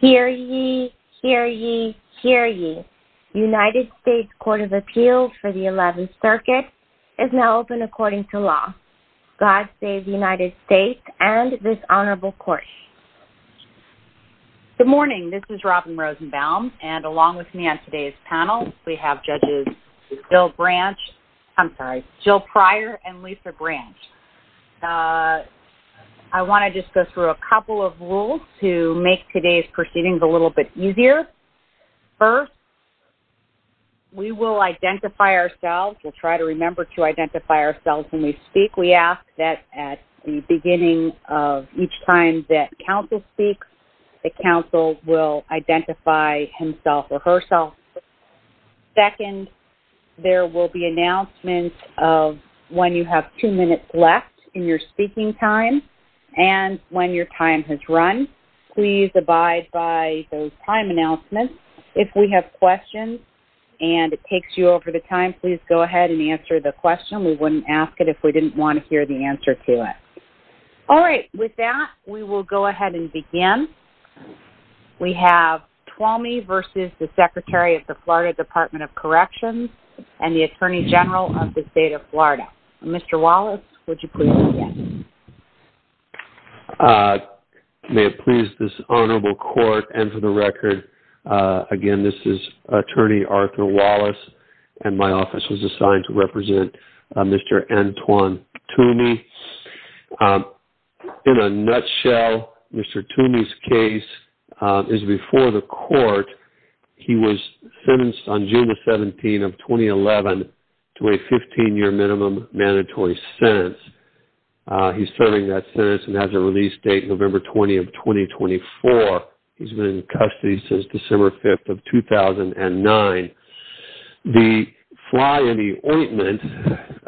Hear ye, hear ye, hear ye. United States Court of Appeals for the 11th Circuit is now open according to law. God save the United States and this honorable court. Good morning, this is Robin Rosenbaum and along with me on today's panel we have judges Jill Prior and Lisa Branch. I want to just go through a couple of rules to make today's proceedings a little bit easier. First, we will identify ourselves. We'll try to remember to identify ourselves when we speak. We ask that at the beginning of each time that counsel speaks, that counsel will identify himself or herself. Second, there will be announcements of when you have two minutes left in your speaking time and when your time has run. Please abide by those time announcements. If we have questions and it takes you over the time, please go ahead and answer the question. We wouldn't ask it if we didn't want to hear the answer to it. All right, with that, we will go ahead and begin. We have Tuomi v. the Secretary of the Florida Department of Corrections and the Attorney General of the Honorable Court and for the record, again, this is Attorney Arthur Wallace and my office was assigned to represent Mr. Antoine Tuomi. In a nutshell, Mr. Tuomi's case is before the court. He was sentenced on June the 17th of 2011 to a 15-year minimum mandatory sentence. He's serving that sentence and has a release date November 20 of 2024. He's been in custody since December 5th of 2009. The fly in the ointment,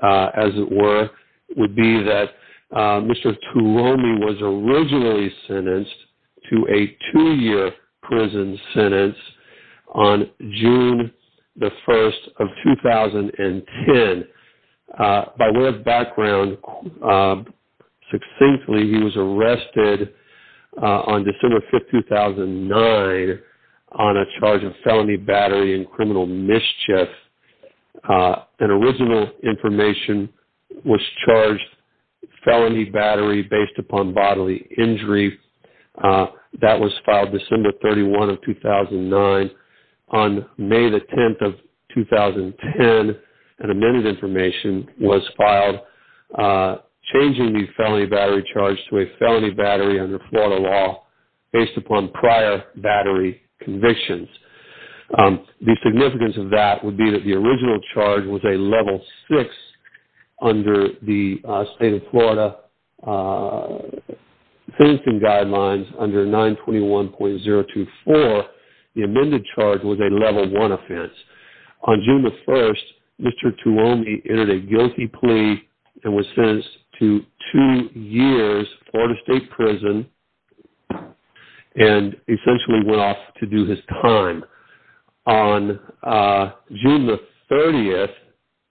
as it were, would be that Mr. Tuomi was originally sentenced to a two-year prison sentence on June the 1st of 2010. By way of succinctly, he was arrested on December 5th, 2009 on a charge of felony battery and criminal mischief. An original information was charged felony battery based upon bodily injury. That was filed December 31 of 2009. On May the 10th of 2010, an amended information was filed changing the felony battery charge to a felony battery under Florida law based upon prior battery convictions. The significance of that would be that the original charge was a level six under the state of Florida sentencing guidelines under 921.024. The amended charge was a level one offense. On June the 1st, Mr. Tuomi entered a guilty plea and was sentenced to two years in Florida state prison and essentially went off to do his time. On June the 30th,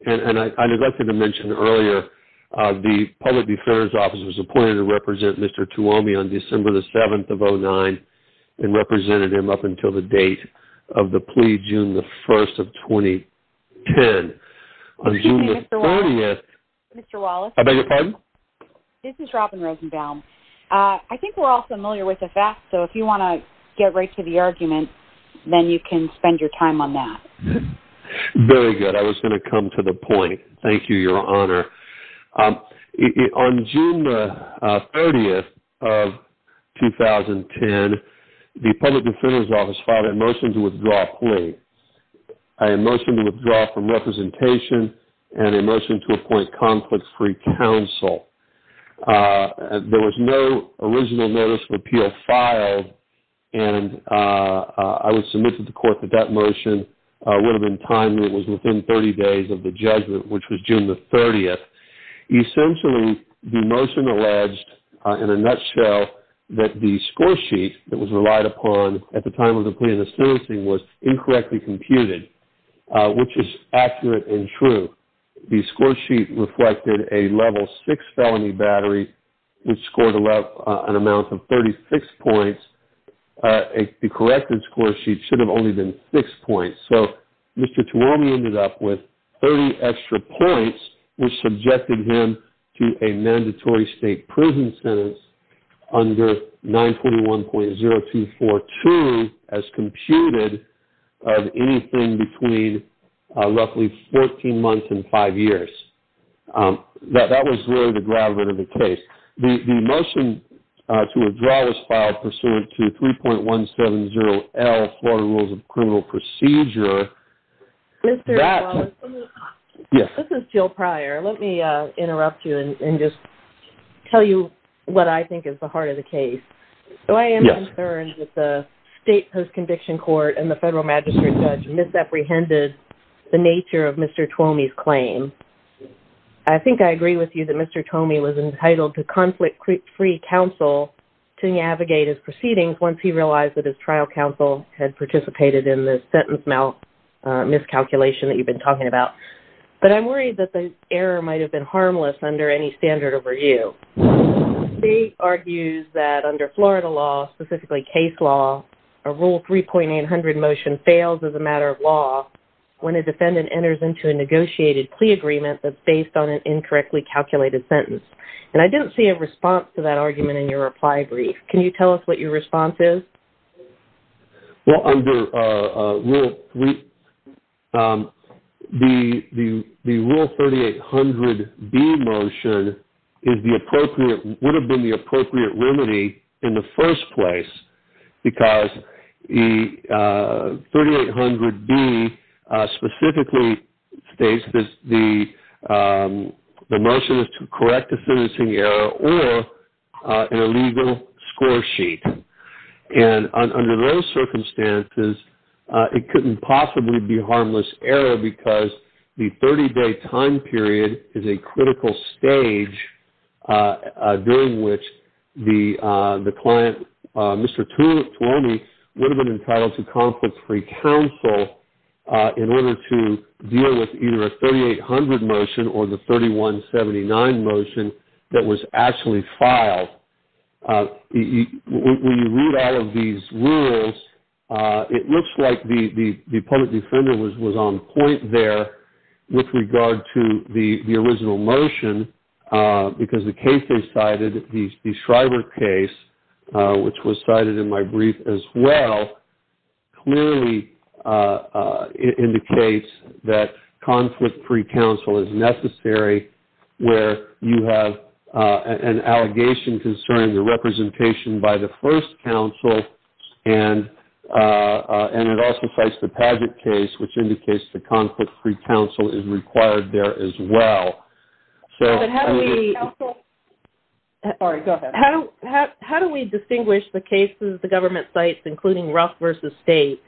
and I neglected to mention earlier, the public defender's office was appointed to represent Mr. Tuomi on December the 7th of 2009 and represented him up until the date of the plea, June the 1st of 2010. On June the 30th, I beg your pardon? This is Robin Rosenbaum. I think we're all familiar with the fact, so if you want to get right to the argument, then you can spend your time on that. Very good. I was going to come to the point. Thank you, Your Honor. On June the 30th of 2010, the public defender's office filed a motion to withdraw a plea, a motion to withdraw from representation and a motion to appoint conflict-free counsel. There was no original notice of appeal filed. I would submit to the court that that motion would have been timed. It was within 30 days of the judgment, which was June the 30th. Essentially, the motion alleged in a nutshell that the score sheet that was relied upon at the time of the plea and the sentencing was incorrectly computed, which is accurate and true. The score sheet reflected a level six felony battery, which scored an amount of 36 points. The corrected score sheet should have only been six points. Mr. Tuomi ended up with 30 extra points, which subjected him to a mandatory state prison sentence under 921.0242 as computed of anything between roughly 14 months and five years. That was really the gravity of the case. The motion to withdraw was filed pursuant to 3.170L Florida Rules of Criminal Procedure. Mr. Wallace, this is Jill Pryor. Let me interrupt you and just tell you what I think is the heart of the case. I am concerned that the state post-conviction court and the federal magistrate judge misapprehended the nature of Mr. Tuomi's claim. I think I agree with you that Mr. Tuomi was entitled to conflict-free counsel to navigate his proceedings once he realized that his trial counsel had participated in the sentence miscalculation that you've been talking about. I'm worried that the error might have been harmless under any standard of review. The state argues that under Florida law, specifically case law, a Rule 3.800 motion fails as a matter of law when a defendant enters into a negotiated plea agreement that's based on an incorrectly calculated sentence. I didn't see a response to that argument in your reply brief. Can you tell us what your response is? Well, under Rule 3.800, the Rule 3.800B motion would have been the appropriate remedy in the first place because 3.800B specifically states that the motion is to correct a sentencing error or an illegal score sheet. Under those circumstances, it couldn't possibly be harmless error because the 30-day time period is a critical stage during which the client, Mr. Tuomi, would have been entitled to conflict-free counsel in order to deal with either the Rule 3.800 motion or the Rule 3.179 motion that was actually filed. When you read out of these rules, it looks like the public defender was on point there with regard to the original motion because the case they cited, the Shriver case, which was cited in my brief as well, clearly indicates that conflict-free counsel is necessary where you have an allegation concerning the representation by the first counsel. It also cites the Padgett case, which indicates the conflict-free counsel is required there as well. How do we distinguish the cases the state,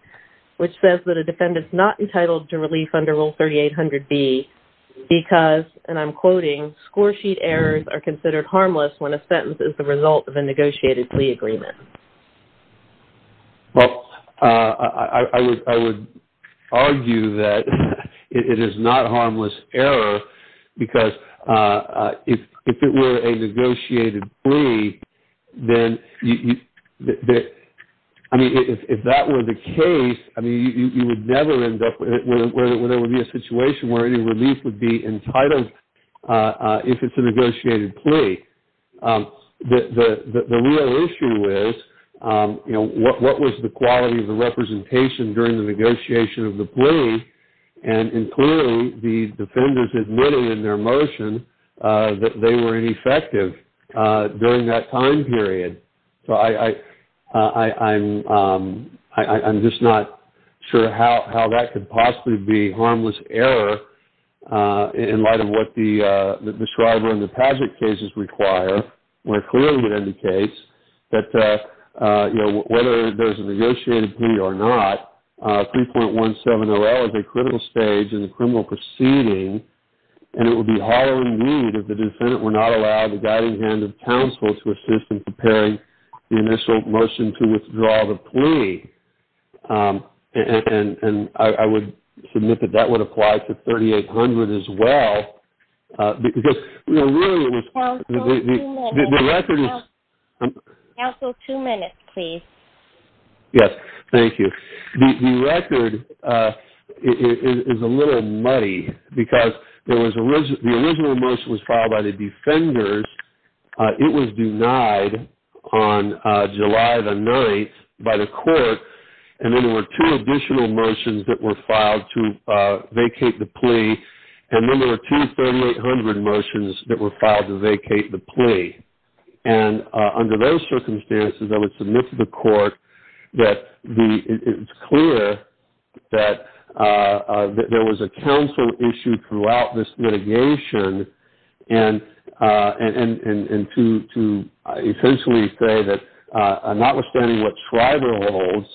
which says that a defendant is not entitled to relief under Rule 3.800B because, and I'm quoting, score sheet errors are considered harmless when a sentence is the result of a negotiated plea agreement? I would argue that it is not harmless error because if it were a case, you would never end up where there would be a situation where any relief would be entitled if it's a negotiated plea. The real issue is what was the quality of the representation during the negotiation of the plea and clearly the defenders admitted in their motion that they were ineffective during that time period. I'm just not sure how that could possibly be harmless error in light of what the Shriver and the Padgett cases require when it clearly indicates that whether there's a negotiated plea or not, 3.170L is a critical stage in the criminal proceeding and it would be hollow indeed if the defendant were not allowed the guiding hand of counsel to assist in preparing the initial motion to withdraw the plea. I would submit that that would apply to 3.800 as well. Counsel, two minutes, please. Yes, thank you. The record is a little muddy because the original motion was filed by the defenders. It was denied on July the 9th by the court and then there were two additional motions that were filed to vacate the plea and then there were two 3.800 motions that were filed to vacate the plea. Under those circumstances, I would submit to the court that it's clear that there was a counsel issue throughout this litigation and to essentially say that notwithstanding what Shriver holds,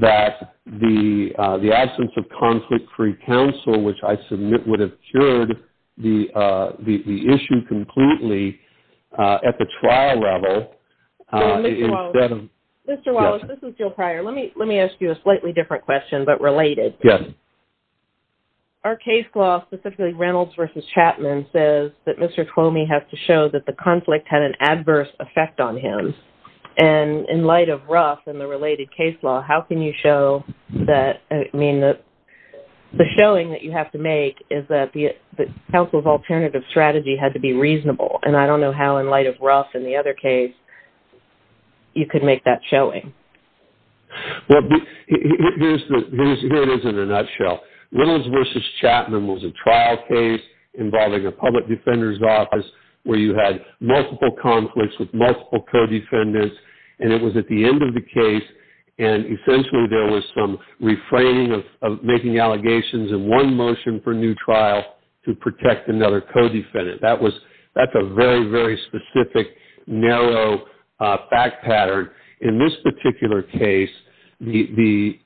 that the absence of conflict-free counsel, which I submit would have cured the issue completely at the trial level. Mr. Wallace, this is Jill Pryor. Let me ask you a slightly different question but related. Yes. Our case law, specifically Reynolds v. Chapman, says that Mr. Twomey has to show that the conflict had an adverse effect on him and in light of Ruff and the related case law, how can you show that, I mean, the showing that you have to make is that the counsel's know how in light of Ruff and the other case, you could make that showing? Well, here it is in a nutshell. Reynolds v. Chapman was a trial case involving a public defender's office where you had multiple conflicts with multiple co-defendants and it was at the end of the case and essentially there was some refraining of making allegations in one motion for a new trial to protect another co-defendant. That's a very, very specific, narrow fact pattern. In this particular case, the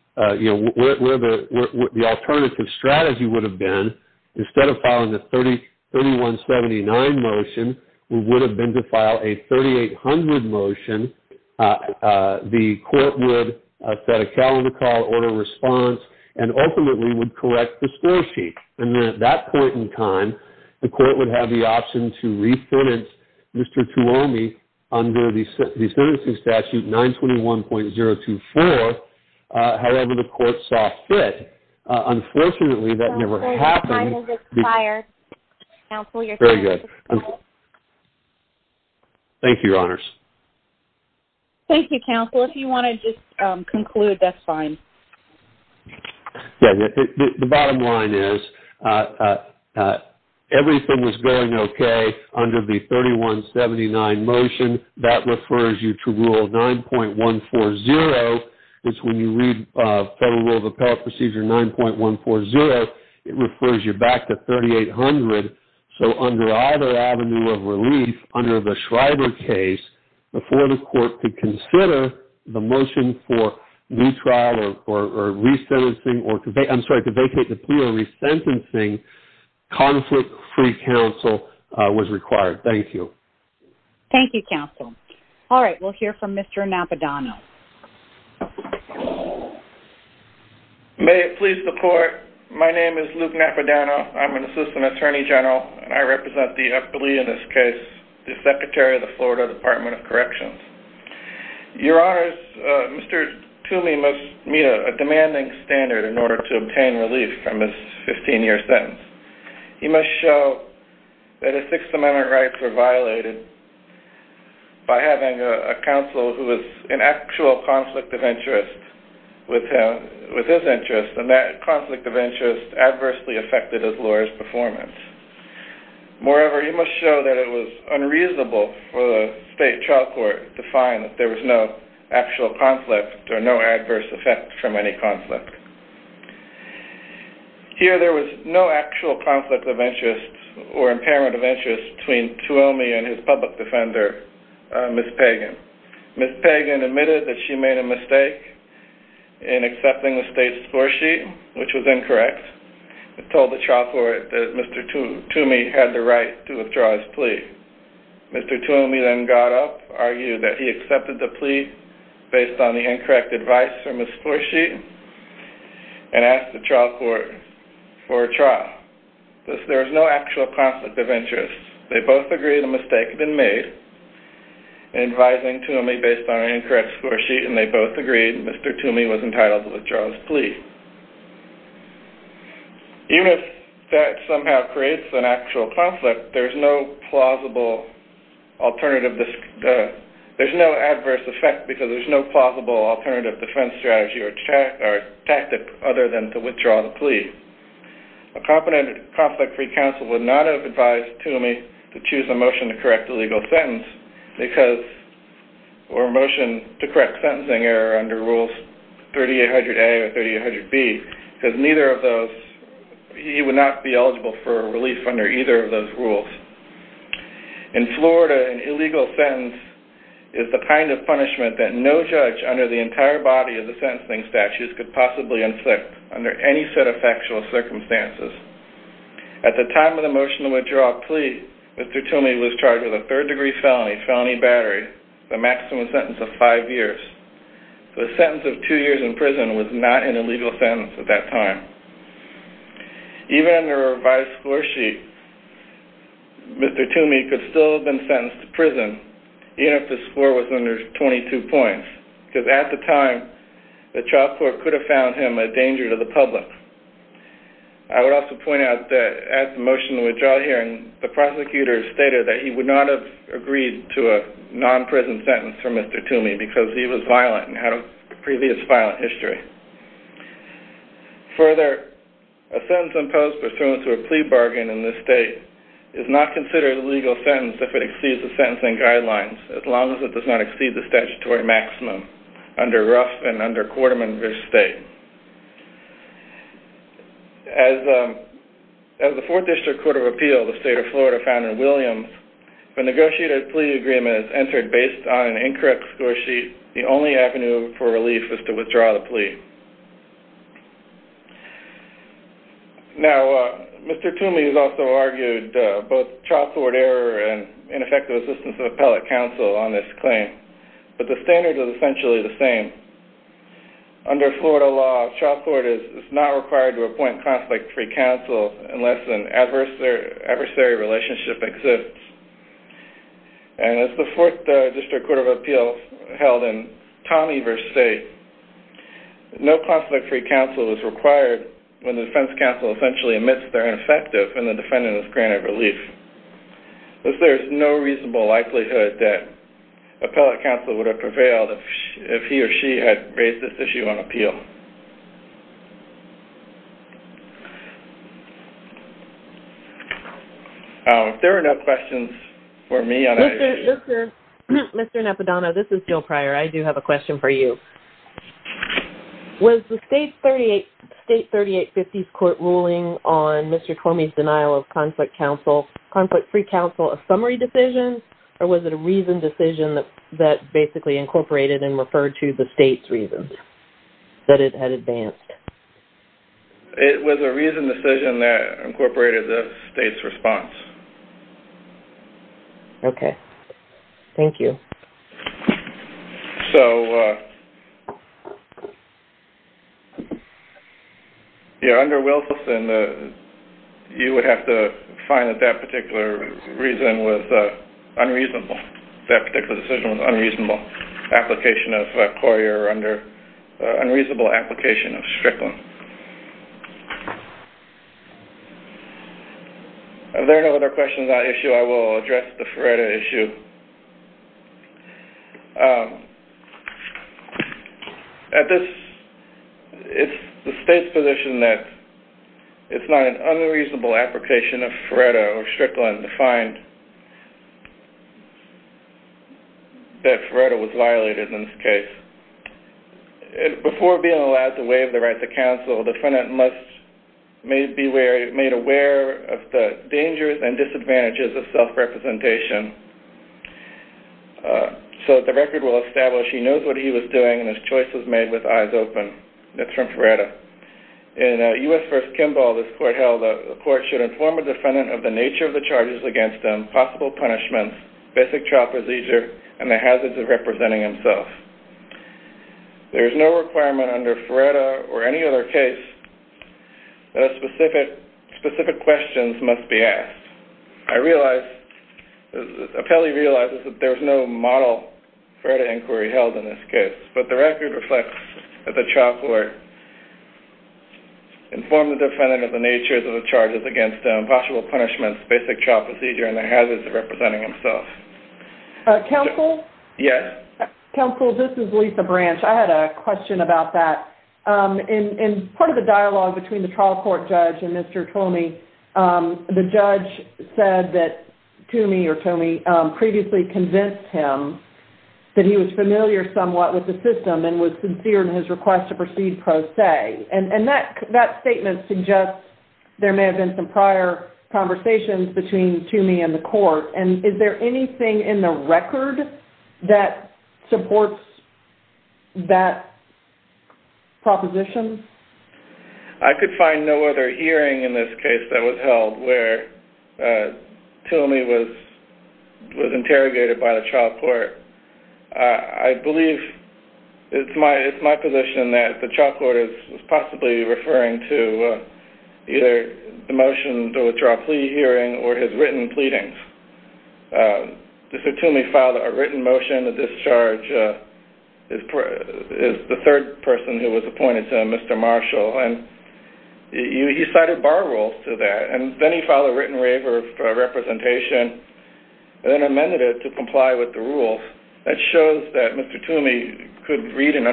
alternative strategy would have been instead of filing a 3179 motion, we would have been to file a 3800 motion. The court would set a calendar call, order response, and ultimately would correct the score sheet. And then at that point in time, the court would have the option to re-finance Mr. Twomey under the sentencing statute 921.024. However, the court saw fit. Unfortunately, that never happened. Thank you, your honors. Thank you, counsel. If you want to just conclude, that's fine. Yeah, the bottom line is everything was going okay under the 3179 motion. That refers you to Rule 9.140. It's when you read Federal Rule of Appellate Procedure 9.140, it refers you back to 3800. So under either avenue of relief, under the Schreiber case, before the court could consider the motion for retrial or resentencing, I'm sorry, to vacate the plea or resentencing, conflict-free counsel was required. Thank you. Thank you, counsel. All right, we'll hear from Mr. Napadano. May it please the court, my name is Luke Napadano. I'm an assistant attorney general, and I represent the appellee in this case, the Secretary of the Florida Department of Corrections. Your honors, Mr. Toomey must meet a demanding standard in order to obtain relief from his 15-year sentence. He must show that his Sixth Amendment rights were violated by having a counsel who was in actual conflict of interest with his interest, and that conflict of interest adversely affected his lawyer's performance. Moreover, he must show that it was unreasonable for the state trial court to find that there was no actual conflict or no adverse effect from any conflict. Here, there was no actual conflict of interest or impairment of interest between Toomey and his public defender, Ms. Pagan. Ms. Pagan admitted that she made a mistake in accepting the state's Toomey had the right to withdraw his plea. Mr. Toomey then got up, argued that he accepted the plea based on the incorrect advice from his score sheet, and asked the trial court for a trial. There was no actual conflict of interest. They both agreed the mistake had been made, advising Toomey based on an incorrect score sheet, and they both agreed Mr. Toomey was creating an actual conflict. There's no plausible alternative defense strategy or tactic other than to withdraw the plea. A competent conflict-free counsel would not have advised Toomey to choose a motion to correct a legal sentence or a motion to correct sentencing error under Rules 3800A or for a relief under either of those rules. In Florida, an illegal sentence is the kind of punishment that no judge under the entire body of the sentencing statutes could possibly inflict under any set of factual circumstances. At the time of the motion to withdraw a plea, Mr. Toomey was charged with a third-degree felony, felony battery, with a maximum sentence of five years. The sentence of two years in prison was not an illegal sentence at that time. Even under a revised score sheet, Mr. Toomey could still have been sentenced to prison, even if the score was under 22 points, because at the time, the trial court could have found him a danger to the public. I would also point out that at the motion to withdraw hearing, the prosecutors stated that he would not have agreed to a non-prison sentence for Mr. Toomey because he was violent history. Further, a sentence imposed pursuant to a plea bargain in this state is not considered a legal sentence if it exceeds the sentencing guidelines, as long as it does not exceed the statutory maximum under Ruff and under Quarterman v. State. As the Fourth District Court of Appeal, the state of Florida, found in Williams, if a negotiated plea agreement is entered based on an incorrect score sheet, the only avenue for relief is to withdraw the plea. Now, Mr. Toomey has also argued both trial court error and ineffective assistance of appellate counsel on this claim, but the standard is essentially the same. Under Florida law, trial court is not required to appoint conflict-free counsel unless an adversary relationship exists. And as the Fourth District Court of Appeal held in Tommy v. State, no conflict-free counsel is required when the defense counsel essentially admits they're ineffective and the defendant is granted relief. Thus, there is no reasonable likelihood that appellate counsel would have prevailed if he or she had raised this issue on appeal. If there are no questions for me on any of these... Mr. Napadano, this is Jill Pryor. I do have a question for you. Was the State 3850's court ruling on Mr. Toomey's denial of conflict-free counsel a summary decision, or was it a reasoned decision that basically incorporated and referred to the state's reasons? That it had advanced. It was a reasoned decision that incorporated the state's response. Okay. Thank you. So, yeah, under Wilson, you would have to find that that particular reason was unreasonable. That particular decision was unreasonable. Application of Courier under unreasonable application of Strickland. Are there no other questions on that issue? I will address the Feretta issue. At this, it's the state's position that it's not an unreasonable application of counsel that Feretta was violated in this case. Before being allowed to waive the right to counsel, the defendant must be made aware of the dangers and disadvantages of self-representation so that the record will establish he knows what he was doing and his choice was made with eyes open. That's from Feretta. In U.S. v. Kimball, this court held the court should inform a defendant of the nature of the basic trial procedure and the hazards of representing himself. There is no requirement under Feretta or any other case that specific questions must be asked. I realize, the appellee realizes that there's no model Feretta inquiry held in this case, but the record reflects that the trial court informed the defendant of the nature of the charges against him, possible punishments, basic trial procedure, and the hazards of counsel. Counsel, this is Lisa Branch. I had a question about that. In part of the dialogue between the trial court judge and Mr. Toomey, the judge said that Toomey previously convinced him that he was familiar somewhat with the system and was sincere in his request to proceed pro se, and that statement suggests there may have been prior conversations between Toomey and the court. Is there anything in the record that supports that proposition? I could find no other hearing in this case that was held where Toomey was interrogated by the trial court. I believe it's my position that the trial court is possibly referring to either the motion to withdraw plea hearing or his written pleadings. Mr. Toomey filed a written motion to discharge the third person who was appointed to him, Mr. Marshall, and he cited bar rules to that, and then he filed a written waiver of representation and then amended it to comply with the rules. That shows that Mr. Toomey could read and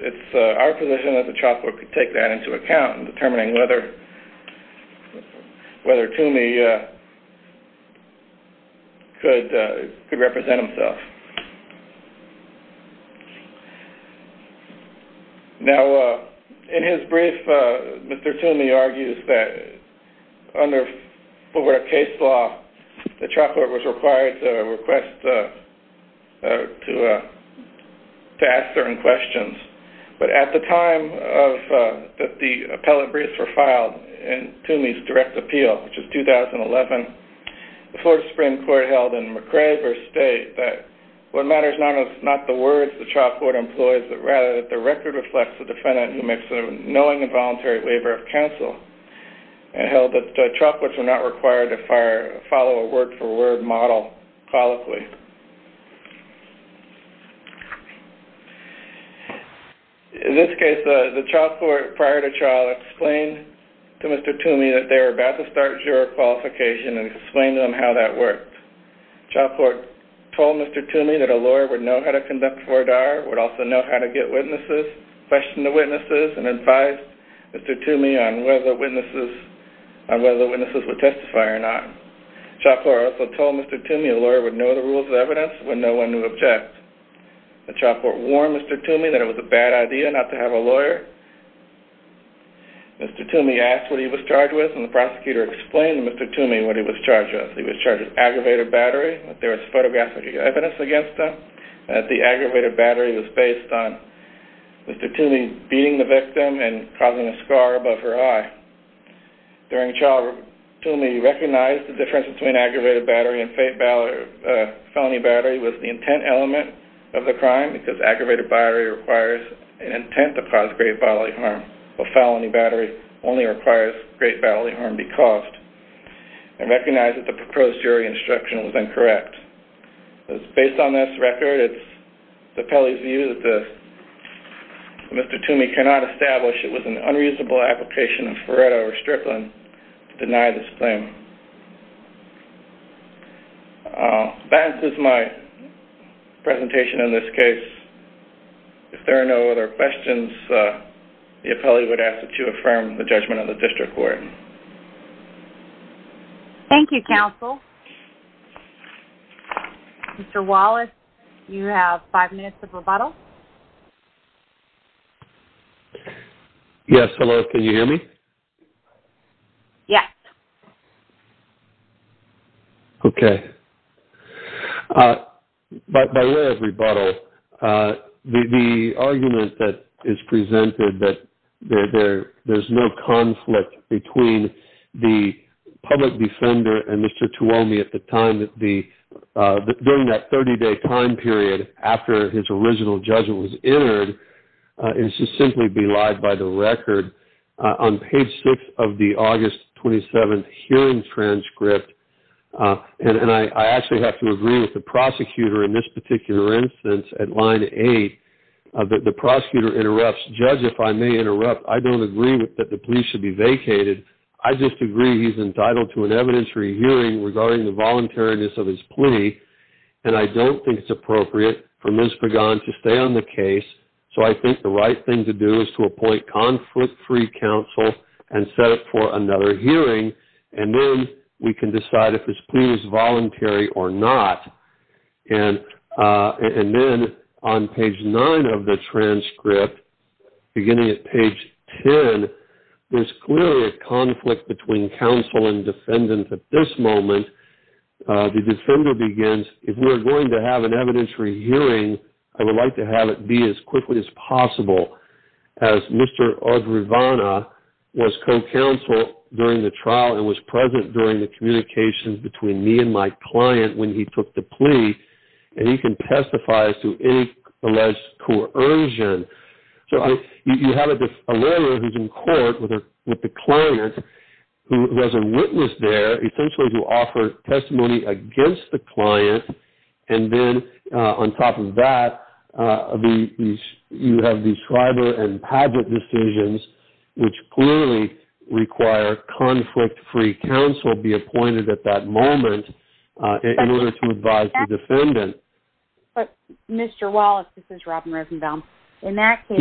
it's our position that the trial court could take that into account in determining whether Toomey could represent himself. Now, in his brief, Mr. Toomey argues that under Fulbright case law, the trial court was required to request to ask certain questions, but at the time that the appellate briefs were filed in Toomey's direct appeal, which was 2011, the Florida Supreme Court held in McRae versus State that what matters not is not the words the trial court employs, but rather that the record reflects the defendant who makes a knowing and voluntary waiver of counsel, and held that trial courts were not required to follow a word-for-word model colloquially. In this case, the trial court prior to trial explained to Mr. Toomey that they were about to start juror qualification and explained to him how that worked. The trial court told Mr. Toomey that a lawyer would know how to conduct FORDAR, would also know how to get witnesses, questioned the witnesses, and advised Mr. Toomey on whether witnesses would testify or not. The trial court also told Mr. Toomey a lawyer would know the rules of evidence when no one would object. The trial court warned Mr. Toomey that it was a bad idea not to have a lawyer. Mr. Toomey asked what he was charged with, and the prosecutor explained to Mr. Toomey what he was charged with. He was charged with aggravated battery, that there was photographic evidence against him, and that the aggravated battery was based on Mr. Toomey beating the victim and causing a scar above her eye. During trial, Toomey recognized the difference between aggravated battery and felony battery was the intent element of the crime, because aggravated battery requires an intent to cause great bodily harm, while felony battery only requires great bodily harm to be Based on this record, it's the appellee's view that Mr. Toomey cannot establish it was an unreasonable application of Furedo or Strickland to deny this claim. That is my presentation in this case. If there are no other questions, the appellee would ask that you affirm the judgment of the district court. Thank you, counsel. Mr. Wallace, you have five minutes of rebuttal. Yes, hello, can you hear me? Yes. Okay. By way of rebuttal, the argument that is presented that there's no conflict between the public defender and Mr. Toomey at the time, during that 30-day time period after his original judgment was entered, is to simply be lied by the record. On page 6 of the August 27th hearing transcript, and I actually have to agree with the prosecutor in this particular instance at line 8, the prosecutor interrupts, judge, if I may interrupt, I don't agree that the plea should be vacated. I just agree he's entitled to an evidentiary hearing regarding the voluntariness of his plea, and I don't think it's appropriate for Ms. Pagan to stay on the case, so I think the right thing to do is to appoint conflict-free counsel and set up for another hearing, and then we can decide if his plea is voluntary or not. And then on page 9 of the transcript, beginning at page 10, there's clearly a conflict between counsel and defendant at this moment. The defender begins, if we are going to have an evidentiary hearing, I would like to have it be as quickly as possible, as Mr. Audrivana was co-counsel during the trial and was present during the communications between me and my client when he took the plea, and he can testify as to any alleged coercion. So you have a lawyer who's in court with the client who has a witness there, essentially to offer testimony against the client, and then on top of that, you have these Schreiber and Padgett decisions, which clearly require conflict-free counsel to be appointed at that moment in order to advise the defendant. But, Mr. Wallace, this is Robin Risenbaum. In that case,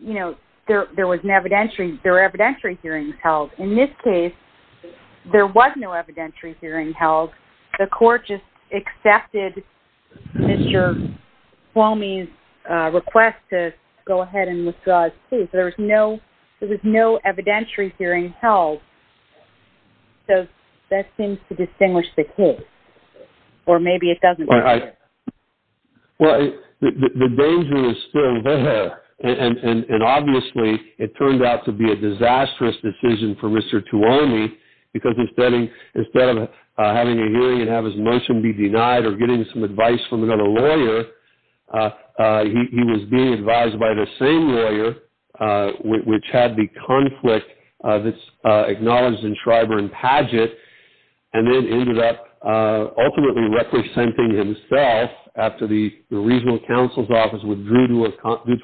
you know, there were evidentiary hearings held. In this case, there was no evidentiary hearing held. The court just accepted Mr. Flomey's request to go ahead and withdraw his case. There was no evidentiary hearing held. So that seems to distinguish the case. Or maybe it doesn't. Well, the danger is still there. And obviously, it turned out to be a disastrous decision for Mr. Tuomi, because instead of having a hearing and have his motion be denied or getting some advice by the same lawyer, which had the conflict that's acknowledged in Schreiber and Padgett, and then ended up ultimately representing himself after the regional counsel's office withdrew due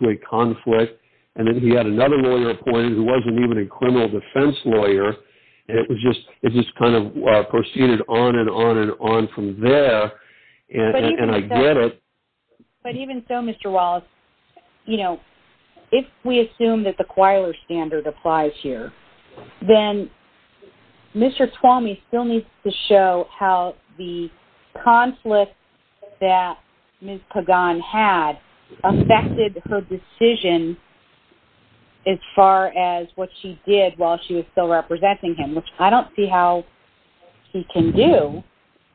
to a conflict, and then he had another lawyer appointed who wasn't even a criminal defense lawyer. It just kind of proceeded on and on and on from there. And I get it. But even so, Mr. Wallace, you know, if we assume that the Quiler standard applies here, then Mr. Tuomi still needs to show how the conflict that Ms. Pagan had affected her decision as far as what she did while she was still representing him, which I don't see how he can do,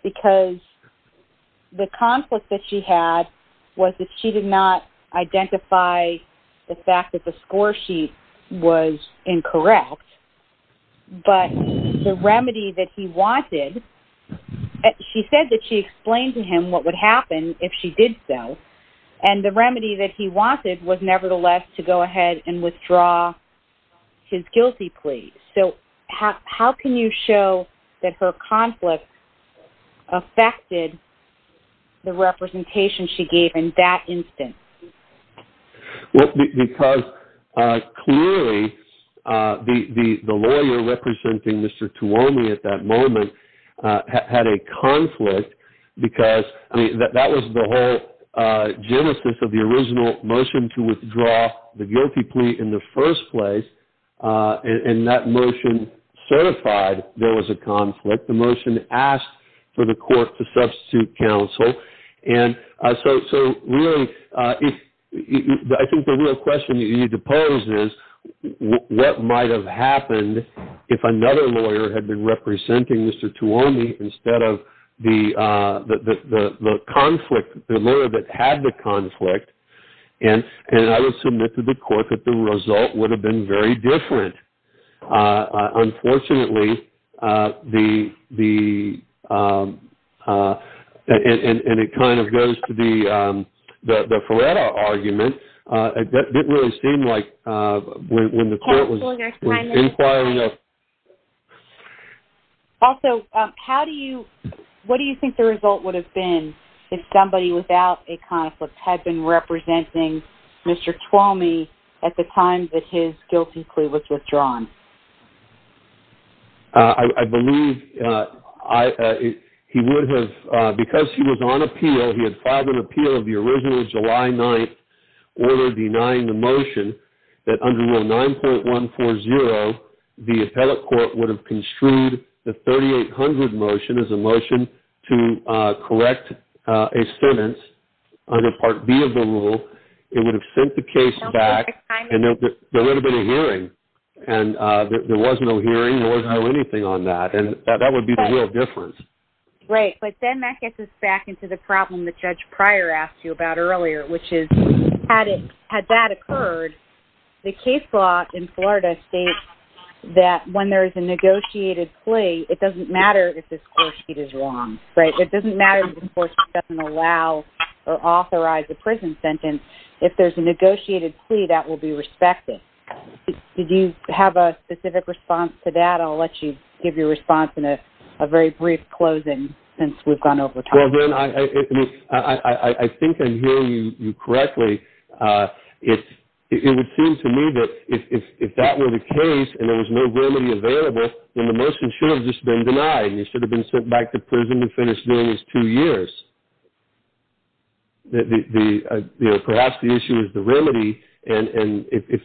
because the conflict that she had was that she did not identify the fact that the score sheet was incorrect. But the remedy that he wanted, she said that she explained to him what would happen if she did so. And the remedy that he wanted was nevertheless to go ahead and her conflict affected the representation she gave in that instance. Well, because clearly the lawyer representing Mr. Tuomi at that moment had a conflict, because that was the whole genesis of the original motion to withdraw the guilty plea in the first place. And that motion certified there was a conflict. The motion asked for the court to substitute counsel. And so really, I think the real question you need to pose is what might have happened if another lawyer had been representing Mr. Tuomi instead of the conflict, the lawyer that had the conflict, and I would submit to the court that the result would have been very different. Unfortunately, and it kind of goes to the Faretta argument, it didn't really seem like when the court was inquiring. Also, what do you think the result would have been if somebody without a conflict had been representing Mr. Tuomi at the time that his guilty plea was withdrawn? I believe he would have, because he was on appeal, he had filed an appeal of the original July 9th order denying the motion that under Rule 9.140, the appellate court would have construed the 3800 motion as a motion to correct a student under Part B of the rule. It would have sent the case back and there would have been a hearing. And there was no hearing, there was no anything on that. And that would be the real difference. Right. But then that gets us back into the problem that Judge Pryor asked you about earlier, which is, had that occurred, the case law in Florida states that when there is a negotiated plea, it doesn't matter if this court sheet is wrong, right? It doesn't matter if the court doesn't allow or authorize a prison sentence. If there's a negotiated plea, that will be respected. Did you have a specific response to that? I'll let you give your response in a very brief closing since we've gone over time. Well, it would seem to me that if that were the case and there was no remedy available, then the motion should have just been denied. He should have been sent back to prison to finish doing his two years. Perhaps the issue is the remedy. And if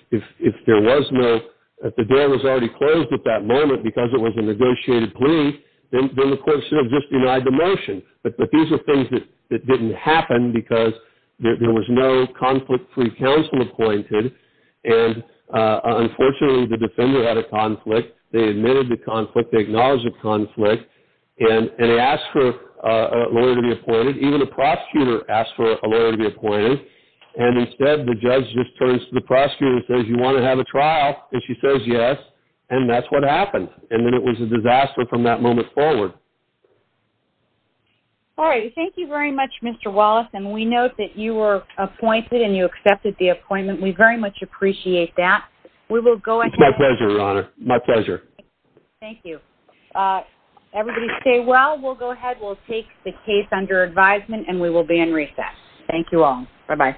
there was no, if the deal was already closed at that moment because it was a negotiated plea, then the court should have just denied the motion. But these are things that didn't happen because there was no conflict-free counsel appointed. And unfortunately, the defender had a conflict. They admitted the conflict. They acknowledged the conflict. And they asked for a lawyer to be appointed. Even the prosecutor asked for a lawyer to be appointed. And instead, the judge just turns to the prosecutor and says, you want to have a trial? And she says, yes. And that's what happened. And then it was a disaster from that moment forward. All right. Thank you very much, Mr. Wallace. And we note that you were appointed and you accepted the appointment. We very much appreciate that. It's my pleasure, Your Honor. My pleasure. Thank you. Everybody stay well. We'll go ahead, we'll take the case under advisement, and we will be in recess. Thank you all. Bye-bye.